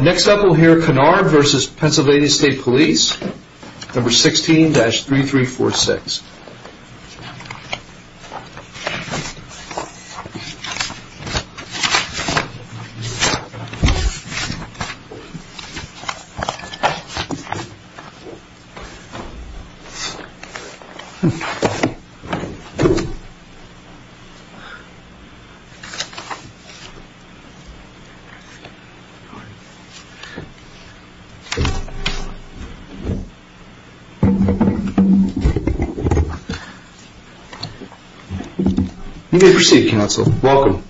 Next up we'll hear Canard v. PA State Police, No. 16-3346 You may proceed, counsel. Welcome.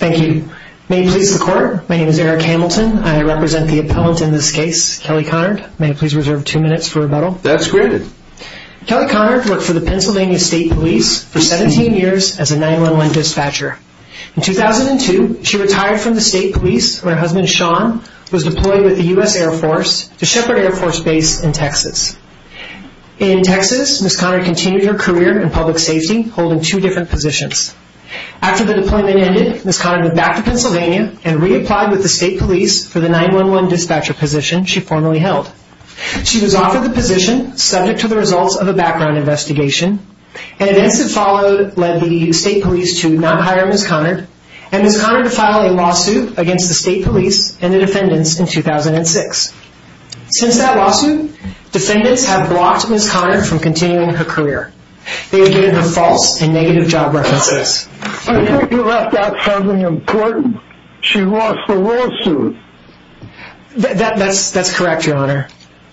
Thank you. May it please the court, my name is Eric Hamilton. I represent the appellant in this case, Kelly Conard. May I please reserve two minutes for rebuttal? That's granted. Kelly Conard worked for the Pennsylvania State Police for 17 years as a 911 dispatcher. In 2002, she retired from the State Police when her husband, Sean, was deployed with the U.S. Air Force to Shepherd Air Force Base in Texas. In Texas, Ms. Conard continued her career in public safety, holding two different positions. After the deployment ended, Ms. Conard went back to Pennsylvania and reapplied with the State Police for the 911 dispatcher position she formerly held. She was offered the position, subject to the results of a background investigation. Events that followed led the State Police to not hire Ms. Conard and Ms. Conard to file a lawsuit against the State Police and the defendants in 2006. Since that lawsuit, defendants have blocked Ms. Conard from continuing her career. They have given her false and negative job references. I thought you left out something important. She lost the lawsuit. That's correct, Your Honor.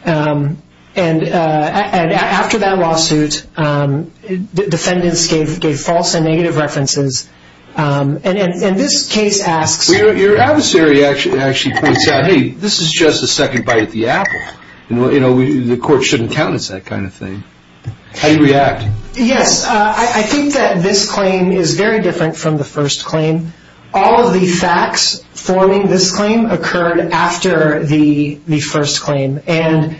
And after that lawsuit, defendants gave false and negative references. And this case asks... Your adversary actually points out, hey, this is just a second bite at the apple. The court shouldn't count as that kind of thing. How do you react? Yes, I think that this claim is very different from the first claim. All of the facts forming this claim occurred after the first claim. And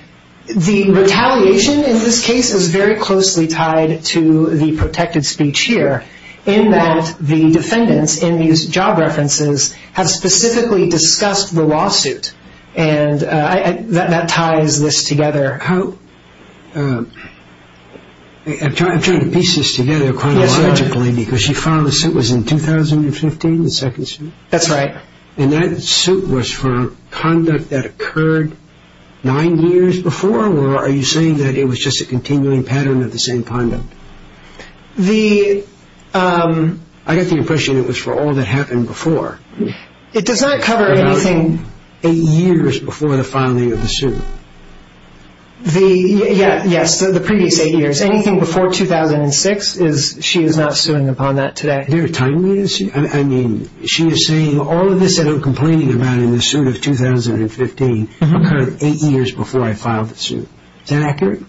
the retaliation in this case is very closely tied to the protected speech here, in that the defendants in these job references have specifically discussed the lawsuit. And that ties this together. I'm trying to piece this together chronologically because you filed a suit in 2015, the second suit? That's right. And that suit was for conduct that occurred nine years before, or are you saying that it was just a continuing pattern of the same conduct? The... I got the impression it was for all that happened before. It does not cover anything... About eight years before the filing of the suit. Yes, the previous eight years. Anything before 2006, she is not suing upon that today. There are time limits? I mean, she is saying all of this that I'm complaining about in the suit of 2015 occurred eight years before I filed the suit. Is that accurate?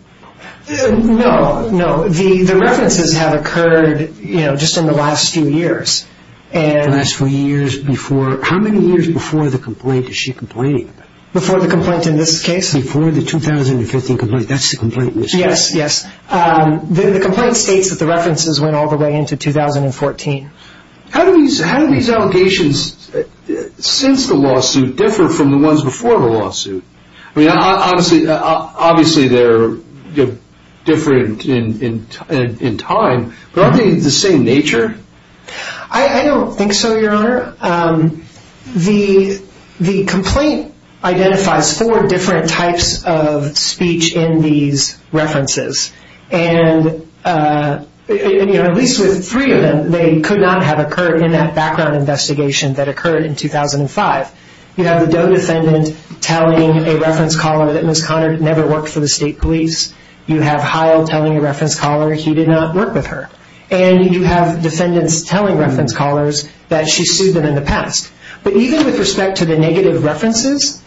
No, no. The references have occurred just in the last few years. The last few years before... How many years before the complaint is she complaining about? Before the complaint in this case? Before the 2015 complaint. That's the complaint in this case. Yes, yes. The complaint states that the references went all the way into 2014. How do these allegations since the lawsuit differ from the ones before the lawsuit? I mean, obviously they're different in time, but aren't they the same nature? I don't think so, Your Honor. Your Honor, the complaint identifies four different types of speech in these references, and at least with three of them, they could not have occurred in that background investigation that occurred in 2005. You have the Doe defendant telling a reference caller that Ms. Conard never worked for the state police. You have Heil telling a reference caller he did not work with her. And you have defendants telling reference callers that she sued them in the past. But even with respect to the negative references,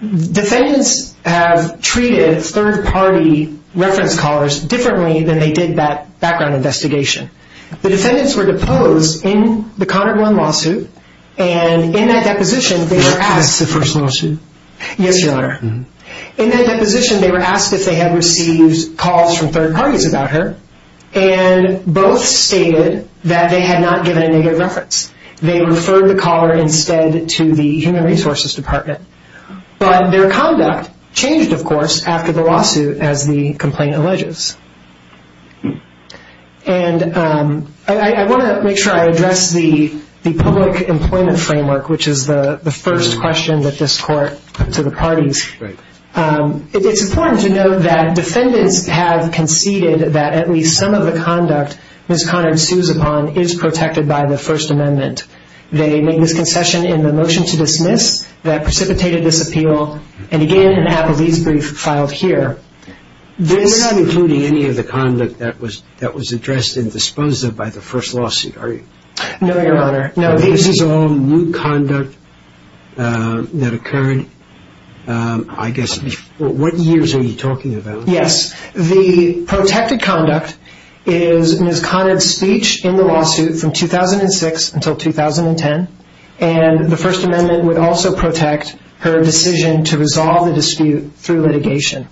defendants have treated third-party reference callers differently than they did that background investigation. The defendants were deposed in the Conard one lawsuit, and in that deposition, they were asked... That's the first lawsuit? Yes, Your Honor. In that deposition, they were asked if they had received calls from third parties about her, and both stated that they had not given a negative reference. They referred the caller instead to the Human Resources Department. But their conduct changed, of course, after the lawsuit as the complaint alleges. And I want to make sure I address the public employment framework, which is the first question that this court put to the parties. It's important to note that defendants have conceded that at least some of the conduct Ms. Conard sues upon is protected by the First Amendment. They make this concession in the motion to dismiss that precipitated this appeal, and again, have a lease brief filed here. You're not including any of the conduct that was addressed in the disposa by the first lawsuit, are you? No, Your Honor. This is all new conduct that occurred, I guess, what years are you talking about? Yes. The protected conduct is Ms. Conard's speech in the lawsuit from 2006 until 2010, and the First Amendment would also protect her decision to resolve the dispute through litigation.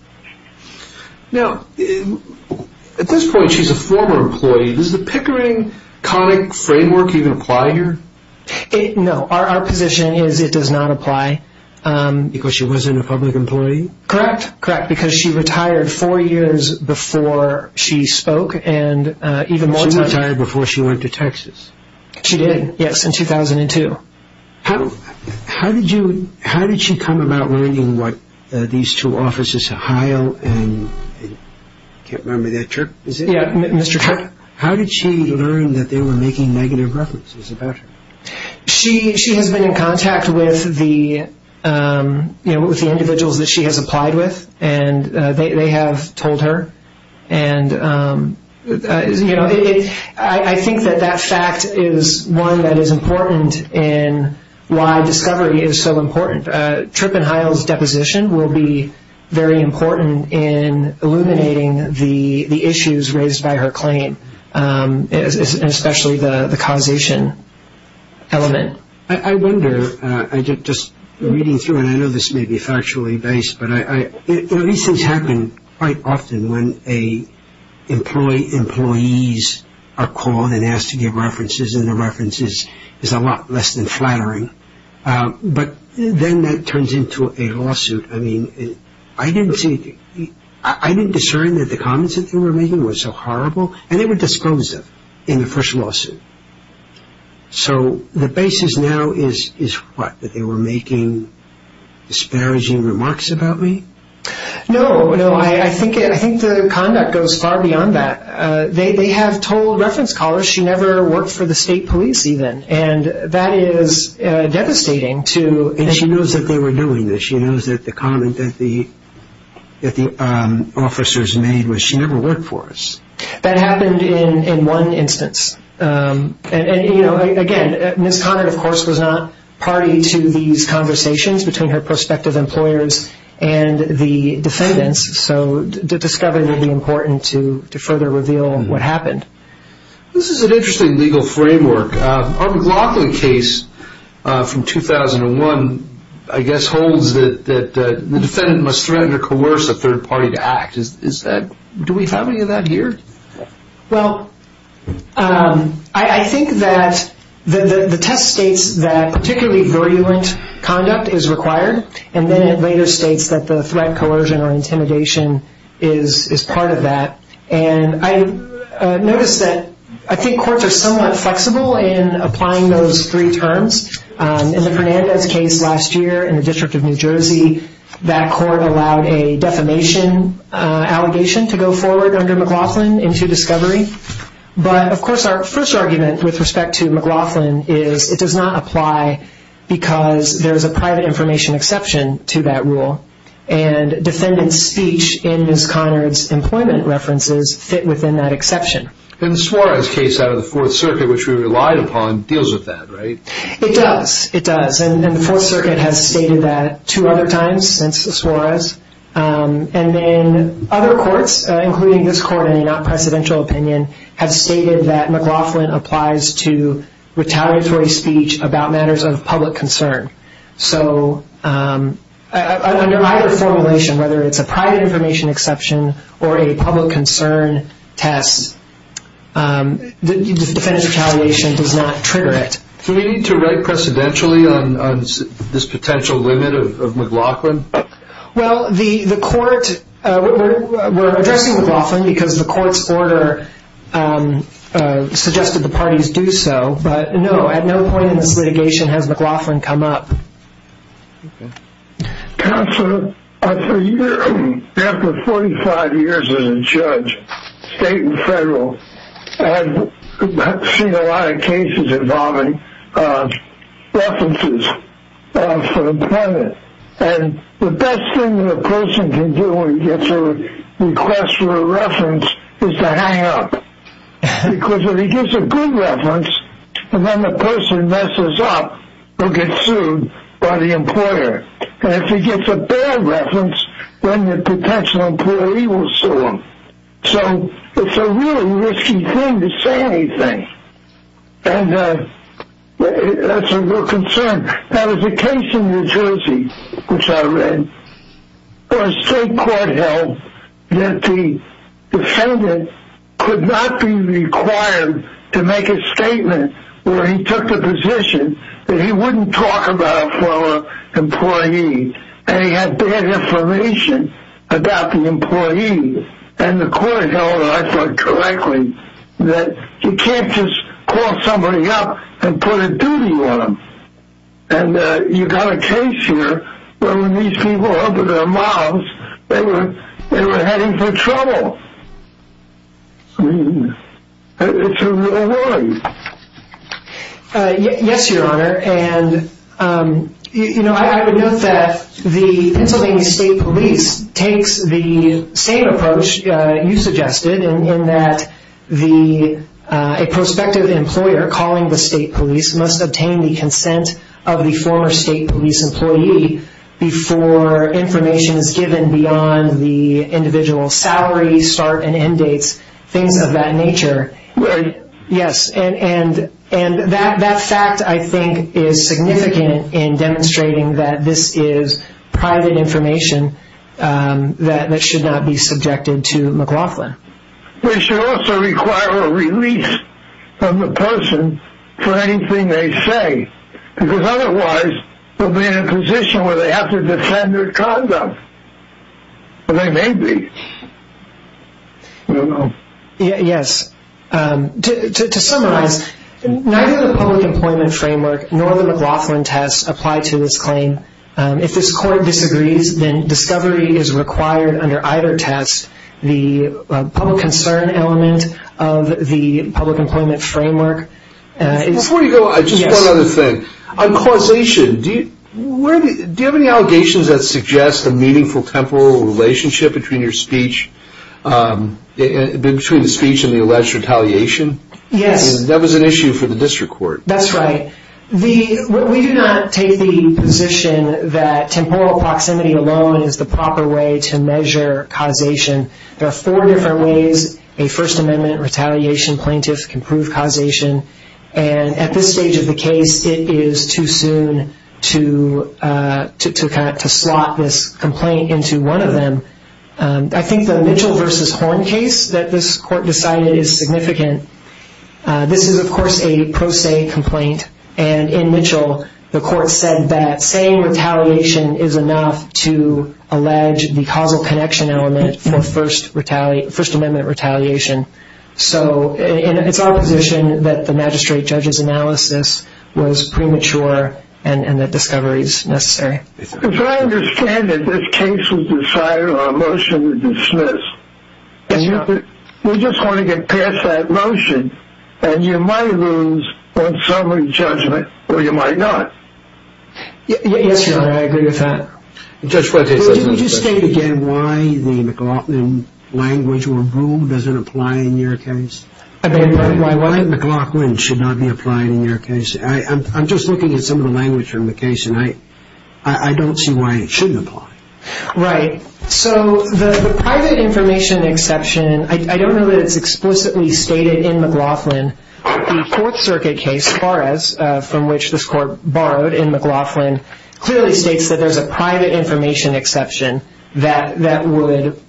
Now, at this point, she's a former employee. Does the Pickering-Conard framework even apply here? No. Our position is it does not apply. Because she wasn't a public employee? Correct. Correct. Because she retired four years before she spoke. She retired before she went to Texas? She did, yes, in 2002. How did she come about learning what these two offices, Ohio and I can't remember that church, is it? Yeah, Mr. Kirk? How did she learn that they were making negative references about her? She has been in contact with the individuals that she has applied with, and they have told her. I think that that fact is one that is important in why discovery is so important. But Tripp and Heil's deposition will be very important in illuminating the issues raised by her claim, especially the causation element. I wonder, just reading through, and I know this may be factually based, but these things happen quite often when employees are called and asked to give references, but then that turns into a lawsuit. I mean, I didn't discern that the comments that they were making were so horrible, and they were disclosive in the first lawsuit. So the basis now is what, that they were making disparaging remarks about me? No, no. I think the conduct goes far beyond that. They have told reference callers she never worked for the state police even, and that is devastating. And she knows that they were doing this. She knows that the comment that the officers made was she never worked for us. That happened in one instance. Again, Ms. Conard, of course, was not party to these conversations between her prospective employers and the defendants, so the discovery will be important to further reveal what happened. This is an interesting legal framework. Our McLaughlin case from 2001, I guess, holds that the defendant must threaten or coerce a third party to act. Do we have any of that here? Well, I think that the test states that particularly virulent conduct is required, and then it later states that the threat, coercion, or intimidation is part of that. And I noticed that I think courts are somewhat flexible in applying those three terms. In the Fernandez case last year in the District of New Jersey, that court allowed a defamation allegation to go forward under McLaughlin into discovery. But, of course, our first argument with respect to McLaughlin is it does not apply because there is a private information exception to that rule, and defendants' speech in Ms. Conard's employment references fit within that exception. And the Suarez case out of the Fourth Circuit, which we relied upon, deals with that, right? It does. It does. And the Fourth Circuit has stated that two other times since the Suarez. And then other courts, including this court in a not-presidential opinion, have stated that McLaughlin applies to retaliatory speech about matters of public concern. So under either formulation, whether it's a private information exception or a public concern test, defendant's retaliation does not trigger it. Do we need to write precedentially on this potential limit of McLaughlin? Well, the court, we're addressing McLaughlin because the court's order suggested the parties do so. But, no, at no point in this litigation has McLaughlin come up. Counselor, after 45 years as a judge, state and federal, I've seen a lot of cases involving references for the defendant. And the best thing that a person can do when he gets a request for a reference is to hang up. Because if he gives a good reference, and then the person messes up, he'll get sued by the employer. And if he gives a bad reference, then the potential employee will sue him. So it's a really risky thing to say anything. And that's a real concern. There was a case in New Jersey, which I read, where a state court held that the defendant could not be required to make a statement where he took the position that he wouldn't talk about it for an employee. And he had bad information about the employee. And the court held, I thought correctly, that you can't just call somebody up and put a duty on them. And you've got a case here where when these people opened their mouths, they were heading for trouble. I mean, it's a real worry. Yes, Your Honor. I would note that the Pennsylvania State Police takes the same approach you suggested, in that a prospective employer calling the state police must obtain the consent of the former state police employee before information is given beyond the individual's salary start and end dates, things of that nature. Right. Yes, and that fact, I think, is significant in demonstrating that this is private information that should not be subjected to McLaughlin. They should also require a release of the person for anything they say, because otherwise they'll be in a position where they have to defend their conduct, or they may be. I don't know. Yes. To summarize, neither the public employment framework nor the McLaughlin test apply to this claim. If this court disagrees, then discovery is required under either test. The public concern element of the public employment framework is- Before you go, just one other thing. On causation, do you have any allegations that suggest a meaningful temporal relationship between the speech and the alleged retaliation? Yes. That was an issue for the district court. That's right. We do not take the position that temporal proximity alone is the proper way to measure causation. There are four different ways a First Amendment retaliation plaintiff can prove causation, and at this stage of the case, it is too soon to slot this complaint into one of them. I think the Mitchell v. Horn case that this court decided is significant. This is, of course, a pro se complaint, and in Mitchell the court said that saying retaliation is enough to allege the causal connection element for First Amendment retaliation. It's our position that the magistrate judge's analysis was premature and that discovery is necessary. As I understand it, this case was decided on a motion to dismiss. Yes, Your Honor. We just want to get past that motion, and you might lose on summary judgment or you might not. Yes, Your Honor, I agree with that. Did you just state again why the McLaughlin language or rule doesn't apply in your case? Why McLaughlin should not be applied in your case? I'm just looking at some of the language from the case, and I don't see why it shouldn't apply. Right. So the private information exception, I don't know that it's explicitly stated in McLaughlin. The Fourth Circuit case, Fares, from which this court borrowed in McLaughlin, clearly states that there's a private information exception that would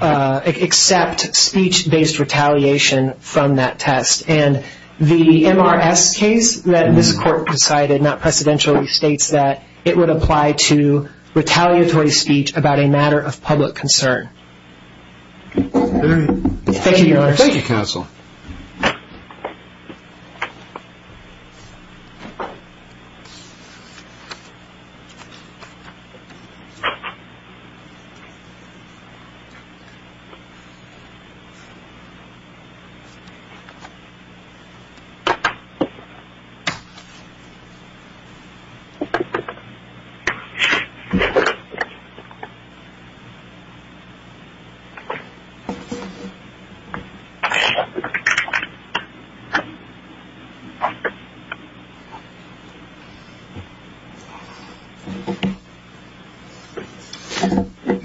accept speech-based retaliation from that test. And the MRS case that this court decided not precedentially states that it would apply to retaliatory speech about a matter of public concern. Thank you, Your Honor. Thank you, counsel.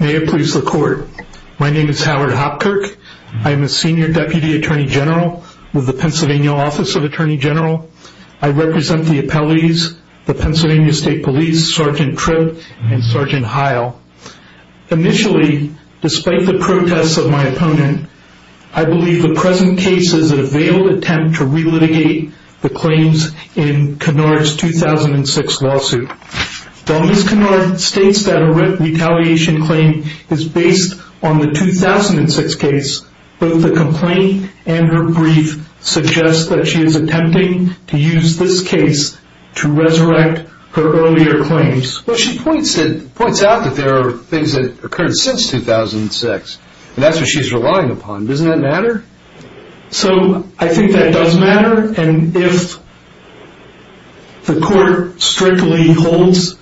May it please the court. My name is Howard Hopkirk. I am a senior deputy attorney general with the Pennsylvania Office of Attorney General. I represent the appellees, the Pennsylvania State Police, Sergeant Tribb and Sergeant Heil. Initially, despite the protests of my opponent, I believe the present case is a veiled attempt to re-litigate the claims in Kinnard's 2006 lawsuit. While Ms. Kinnard states that a retaliation claim is based on the 2006 case, both the complaint and her brief suggest that she is attempting to use this case to resurrect her earlier claims. Well, she points out that there are things that occurred since 2006. And that's what she's relying upon. Doesn't that matter? So I think that does matter. And if the court strictly holds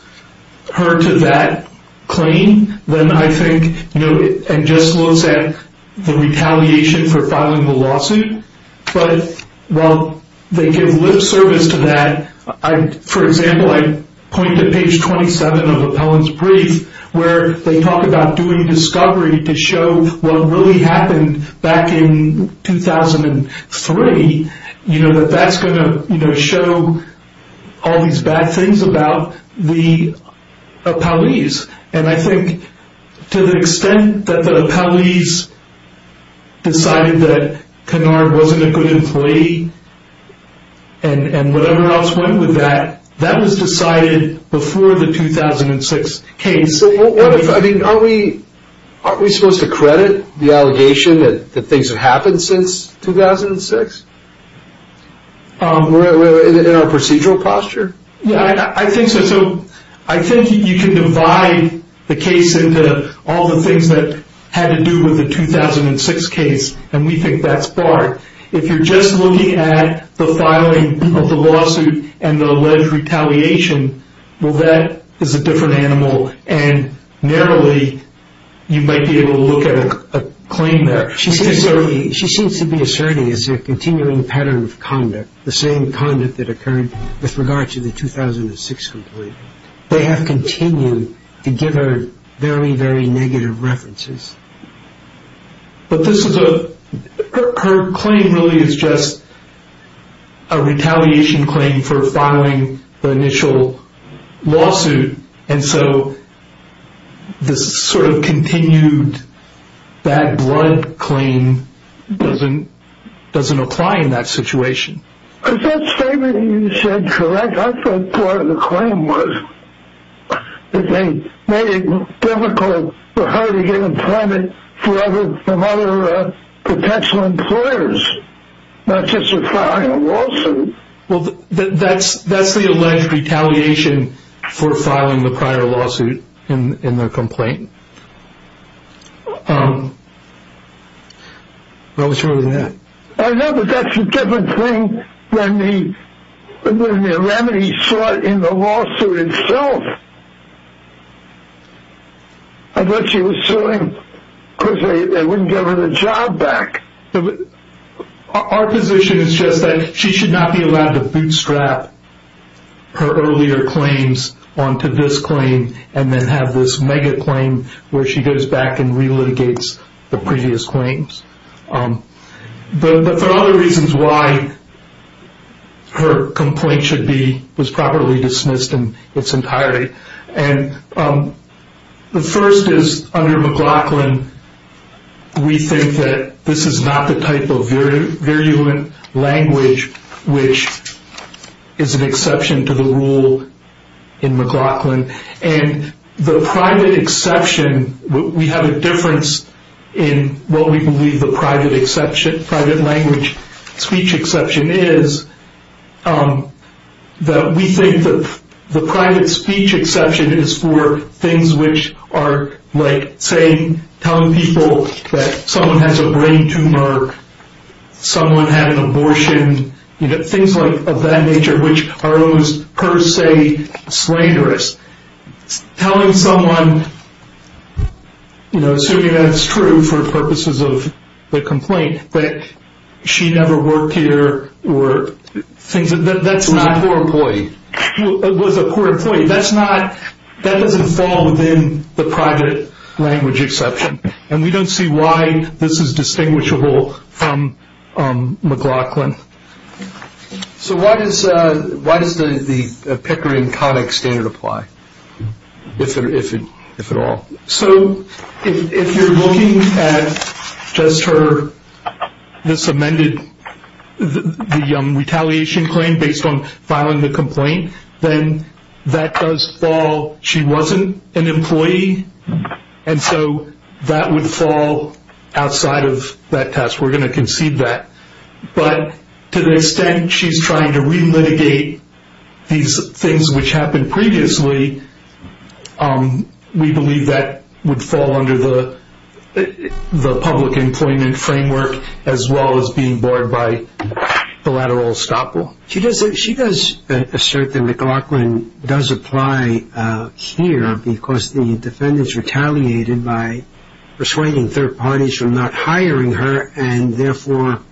her to that claim, then I think, you know, and just looks at the retaliation for filing the lawsuit. But while they give lip service to that, for example, I point to page 27 of Appellant's brief where they talk about doing discovery to show what really happened back in 2003. You know, that that's going to show all these bad things about the appellees. And I think to the extent that the appellees decided that Kinnard wasn't a good employee and whatever else went with that, that was decided before the 2006 case. So what if, I mean, aren't we supposed to credit the allegation that things have happened since 2006? In our procedural posture? Yeah, I think so. So I think you can divide the case into all the things that had to do with the 2006 case. And we think that's barred. If you're just looking at the filing of the lawsuit and the alleged retaliation, well, that is a different animal. And narrowly, you might be able to look at a claim there. She seems to be asserting a continuing pattern of conduct, the same conduct that occurred with regard to the 2006 complaint. They have continued to give her very, very negative references. But this is a, her claim really is just a retaliation claim for filing the initial lawsuit. And so this sort of continued bad blood claim doesn't apply in that situation. Is that statement you said correct? In fact, I thought part of the claim was that they made it difficult for her to get employment for some other potential employers, not just for filing a lawsuit. Well, that's the alleged retaliation for filing the prior lawsuit in the complaint. I was sure of that. I know that that's a different thing than the remedy sought in the lawsuit itself. I thought she was suing because they wouldn't give her the job back. Our position is just that she should not be allowed to bootstrap her earlier claims onto this claim and then have this mega claim where she goes back and relitigates the previous claims. But there are other reasons why her complaint should be, was properly dismissed in its entirety. And the first is under McLaughlin, we think that this is not the type of virulent language which is an exception to the rule in McLaughlin. And the private exception, we have a difference in what we believe the private language speech exception is. We think that the private speech exception is for things which are like telling people that someone has a brain tumor, someone had an abortion, things of that nature which are almost per se slanderous. Telling someone, assuming that's true for purposes of the complaint, that she never worked here, that's not a poor employee. That doesn't fall within the private language exception. And we don't see why this is distinguishable from McLaughlin. So why does the Pickering-Connick standard apply, if at all? So if you're looking at just her, this amended, the retaliation claim based on filing the complaint, then that does fall, she wasn't an employee, and so that would fall outside of that test. We're going to concede that. But to the extent she's trying to relitigate these things which happened previously, we believe that would fall under the public employment framework as well as being barred by collateral estoppel. She does assert that McLaughlin does apply here because the defendant's retaliated by persuading third parties from not hiring her, and therefore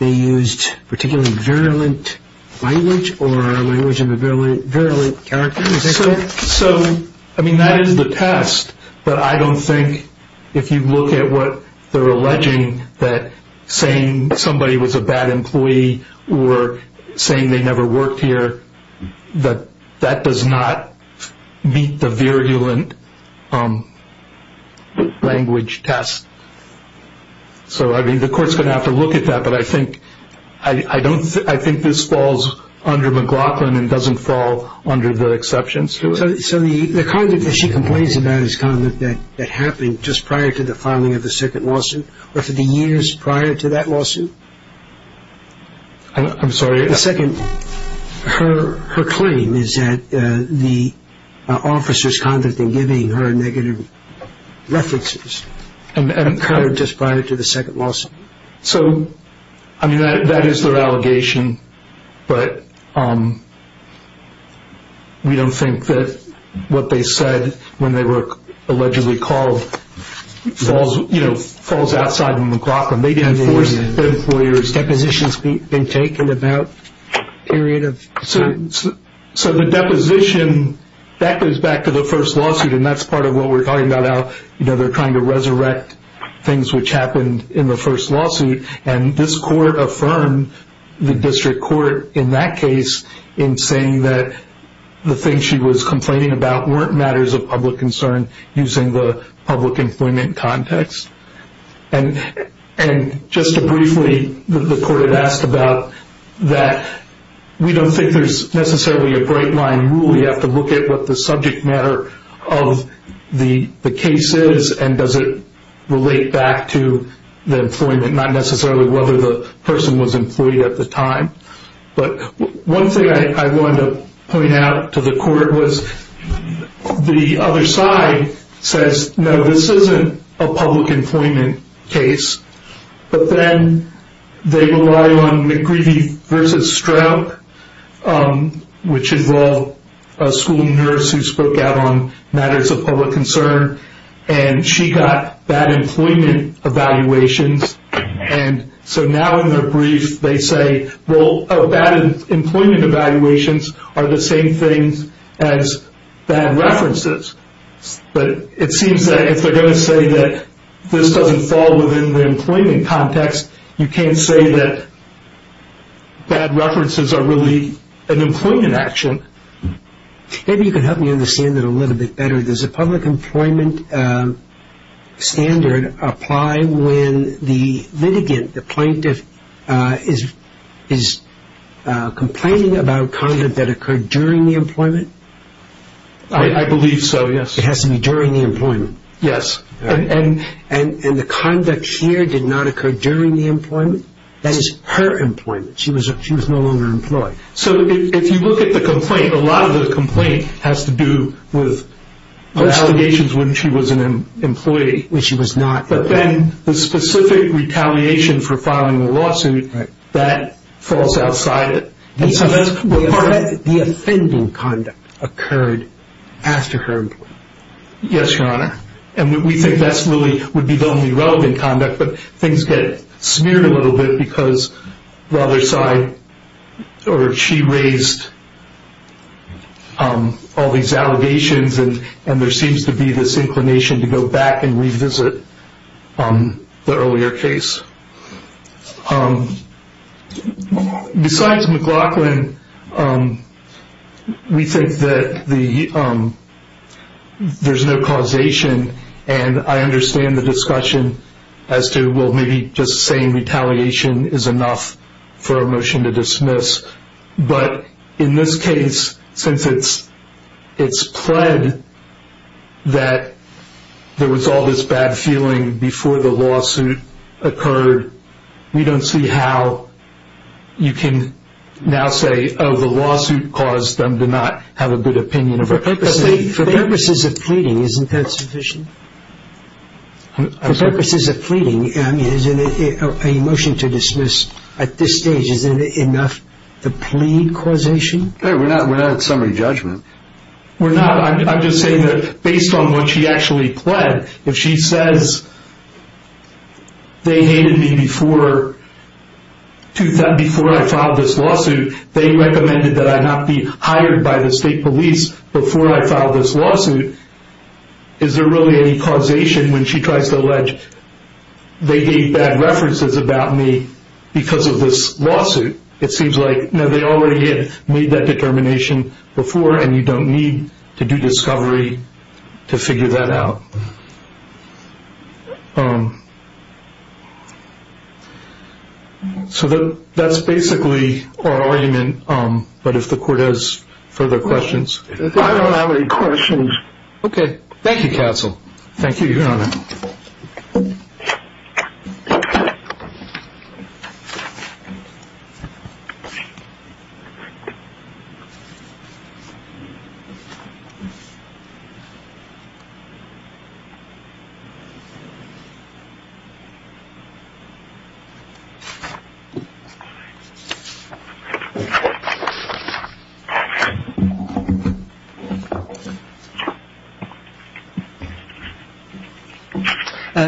they used particularly virulent language or language of a virulent character. So, I mean, that is the test, but I don't think if you look at what they're alleging, that saying somebody was a bad employee or saying they never worked here, that does not meet the virulent language test. So, I mean, the court's going to have to look at that, but I think this falls under McLaughlin and doesn't fall under the exceptions to it. So the comment that she complains about is a comment that happened just prior to the filing of the second lawsuit, or for the years prior to that lawsuit? I'm sorry. The second, her claim is that the officers conducted in giving her negative references. And occurred just prior to the second lawsuit. So, I mean, that is their allegation, but we don't think that what they said when they were allegedly called falls outside of McLaughlin. Depositions have been taken about a period of time. So the deposition, that goes back to the first lawsuit, and that's part of what we're talking about now. You know, they're trying to resurrect things which happened in the first lawsuit, and this court affirmed the district court in that case in saying that the things she was complaining about weren't matters of public concern using the public employment context. And just briefly, the court had asked about that. We don't think there's necessarily a bright line rule. You have to look at what the subject matter of the case is and does it relate back to the employment, not necessarily whether the person was employed at the time. But one thing I wanted to point out to the court was the other side says, no, this isn't a public employment case. But then they rely on McGreevey versus Stroup, which involved a school nurse who spoke out on matters of public concern, and she got bad employment evaluations. And so now in their brief, they say, well, bad employment evaluations are the same things as bad references. But it seems that if they're going to say that this doesn't fall within the employment context, you can't say that bad references are really an employment action. Maybe you can help me understand it a little bit better. Does a public employment standard apply when the litigant, the plaintiff, I believe so, yes. It has to be during the employment. Yes. And the conduct here did not occur during the employment? That is her employment. She was no longer employed. So if you look at the complaint, a lot of the complaint has to do with allegations when she was an employee when she was not. But then the specific retaliation for filing a lawsuit, that falls outside it. The offending conduct occurred after her employment? Yes, Your Honor. And we think that's really would be the only relevant conduct, but things get smeared a little bit because the other side or she raised all these allegations and there seems to be this inclination to go back and revisit the earlier case. Besides McLaughlin, we think that there's no causation and I understand the discussion as to, well, maybe just saying retaliation is enough for a motion to dismiss. But in this case, since it's pled that there was all this bad feeling before the lawsuit occurred, we don't see how you can now say, oh, the lawsuit caused them to not have a good opinion of her. For purposes of pleading, isn't that sufficient? For purposes of pleading, I mean, a motion to dismiss at this stage, isn't it enough to plead causation? We're not at summary judgment. We're not. I'm just saying that based on what she actually pled, if she says they hated me before I filed this lawsuit, they recommended that I not be hired by the state police before I filed this lawsuit, is there really any causation when she tries to allege they gave bad references about me because of this lawsuit? It seems like, no, they already had made that determination before and you don't need to do discovery to figure that out. So that's basically our argument, but if the court has further questions. I don't have any questions. Okay. Thank you, counsel. Thank you, Your Honor.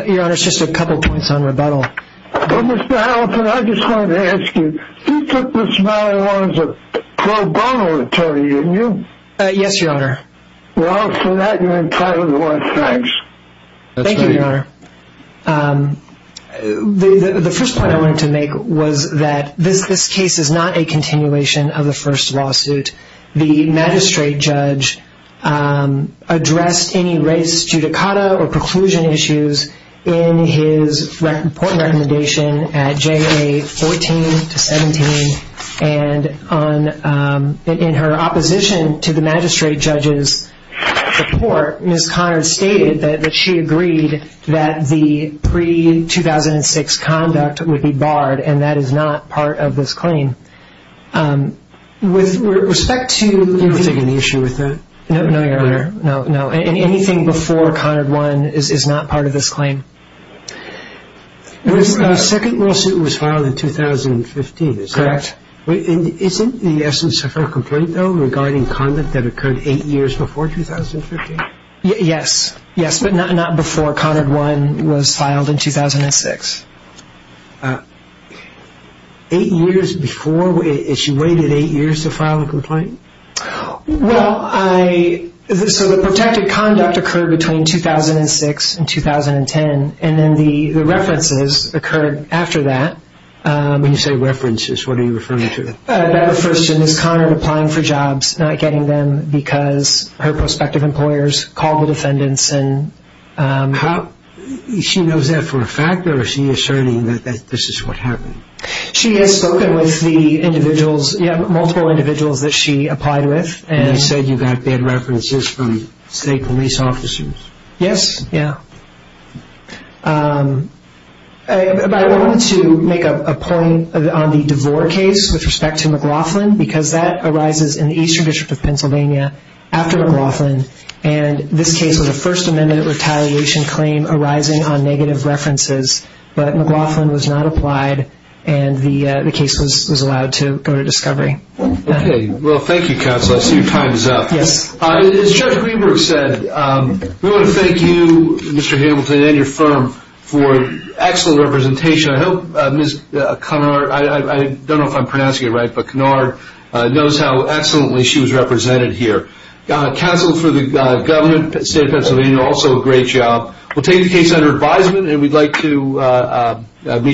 Your Honor, it's just a couple points on rebuttal. Mr. Halifax, I just wanted to ask you, you took this matter on as a pro bono attorney, didn't you? Yes, Your Honor. Well, for that, you're entitled to one. Thanks. Thank you, Your Honor. The first point I wanted to make was that this case is not a continuation of the first lawsuit. The magistrate judge addressed any race judicata or preclusion issues in his report and recommendation at JA 14 to 17, and in her opposition to the magistrate judge's report, Ms. Conard stated that she agreed that the pre-2006 conduct would be barred and that is not part of this claim. With respect to... Do you have an issue with that? No, Your Honor. No, no. Anything before Conard 1 is not part of this claim. The second lawsuit was filed in 2015. Correct. Isn't the essence of her complaint, though, regarding conduct that occurred eight years before 2015? Yes. Yes, but not before Conard 1 was filed in 2006. Eight years before? Has she waited eight years to file a complaint? Well, I... So the protected conduct occurred between 2006 and 2010, and then the references occurred after that. When you say references, what are you referring to? That refers to Ms. Conard applying for jobs, not getting them because her prospective employers called the defendants and... She knows that for a fact, or is she asserting that this is what happened? She has spoken with the individuals, yeah, multiple individuals that she applied with. And you said you got bad references from state police officers. Yes, yeah. But I wanted to make a point on the DeVore case with respect to McLaughlin because that arises in the Eastern District of Pennsylvania after McLaughlin, and this case was a First Amendment retaliation claim arising on negative references, but McLaughlin was not applied and the case was allowed to go to discovery. Okay. Well, thank you, Counsel. I see your time is up. Yes. As Judge Greenberg said, we want to thank you, Mr. Hamilton, and your firm for excellent representation. I hope Ms. Conard... I don't know if I'm pronouncing it right, but Conard knows how excellently she was represented here. Counsel for the government, State of Pennsylvania, also a great job. We'll take the case under advisement, and we'd like to meet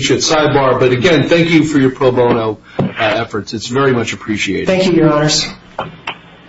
you at sidebar, but again, thank you for your pro bono efforts. It's very much appreciated. Thank you, Your Honors.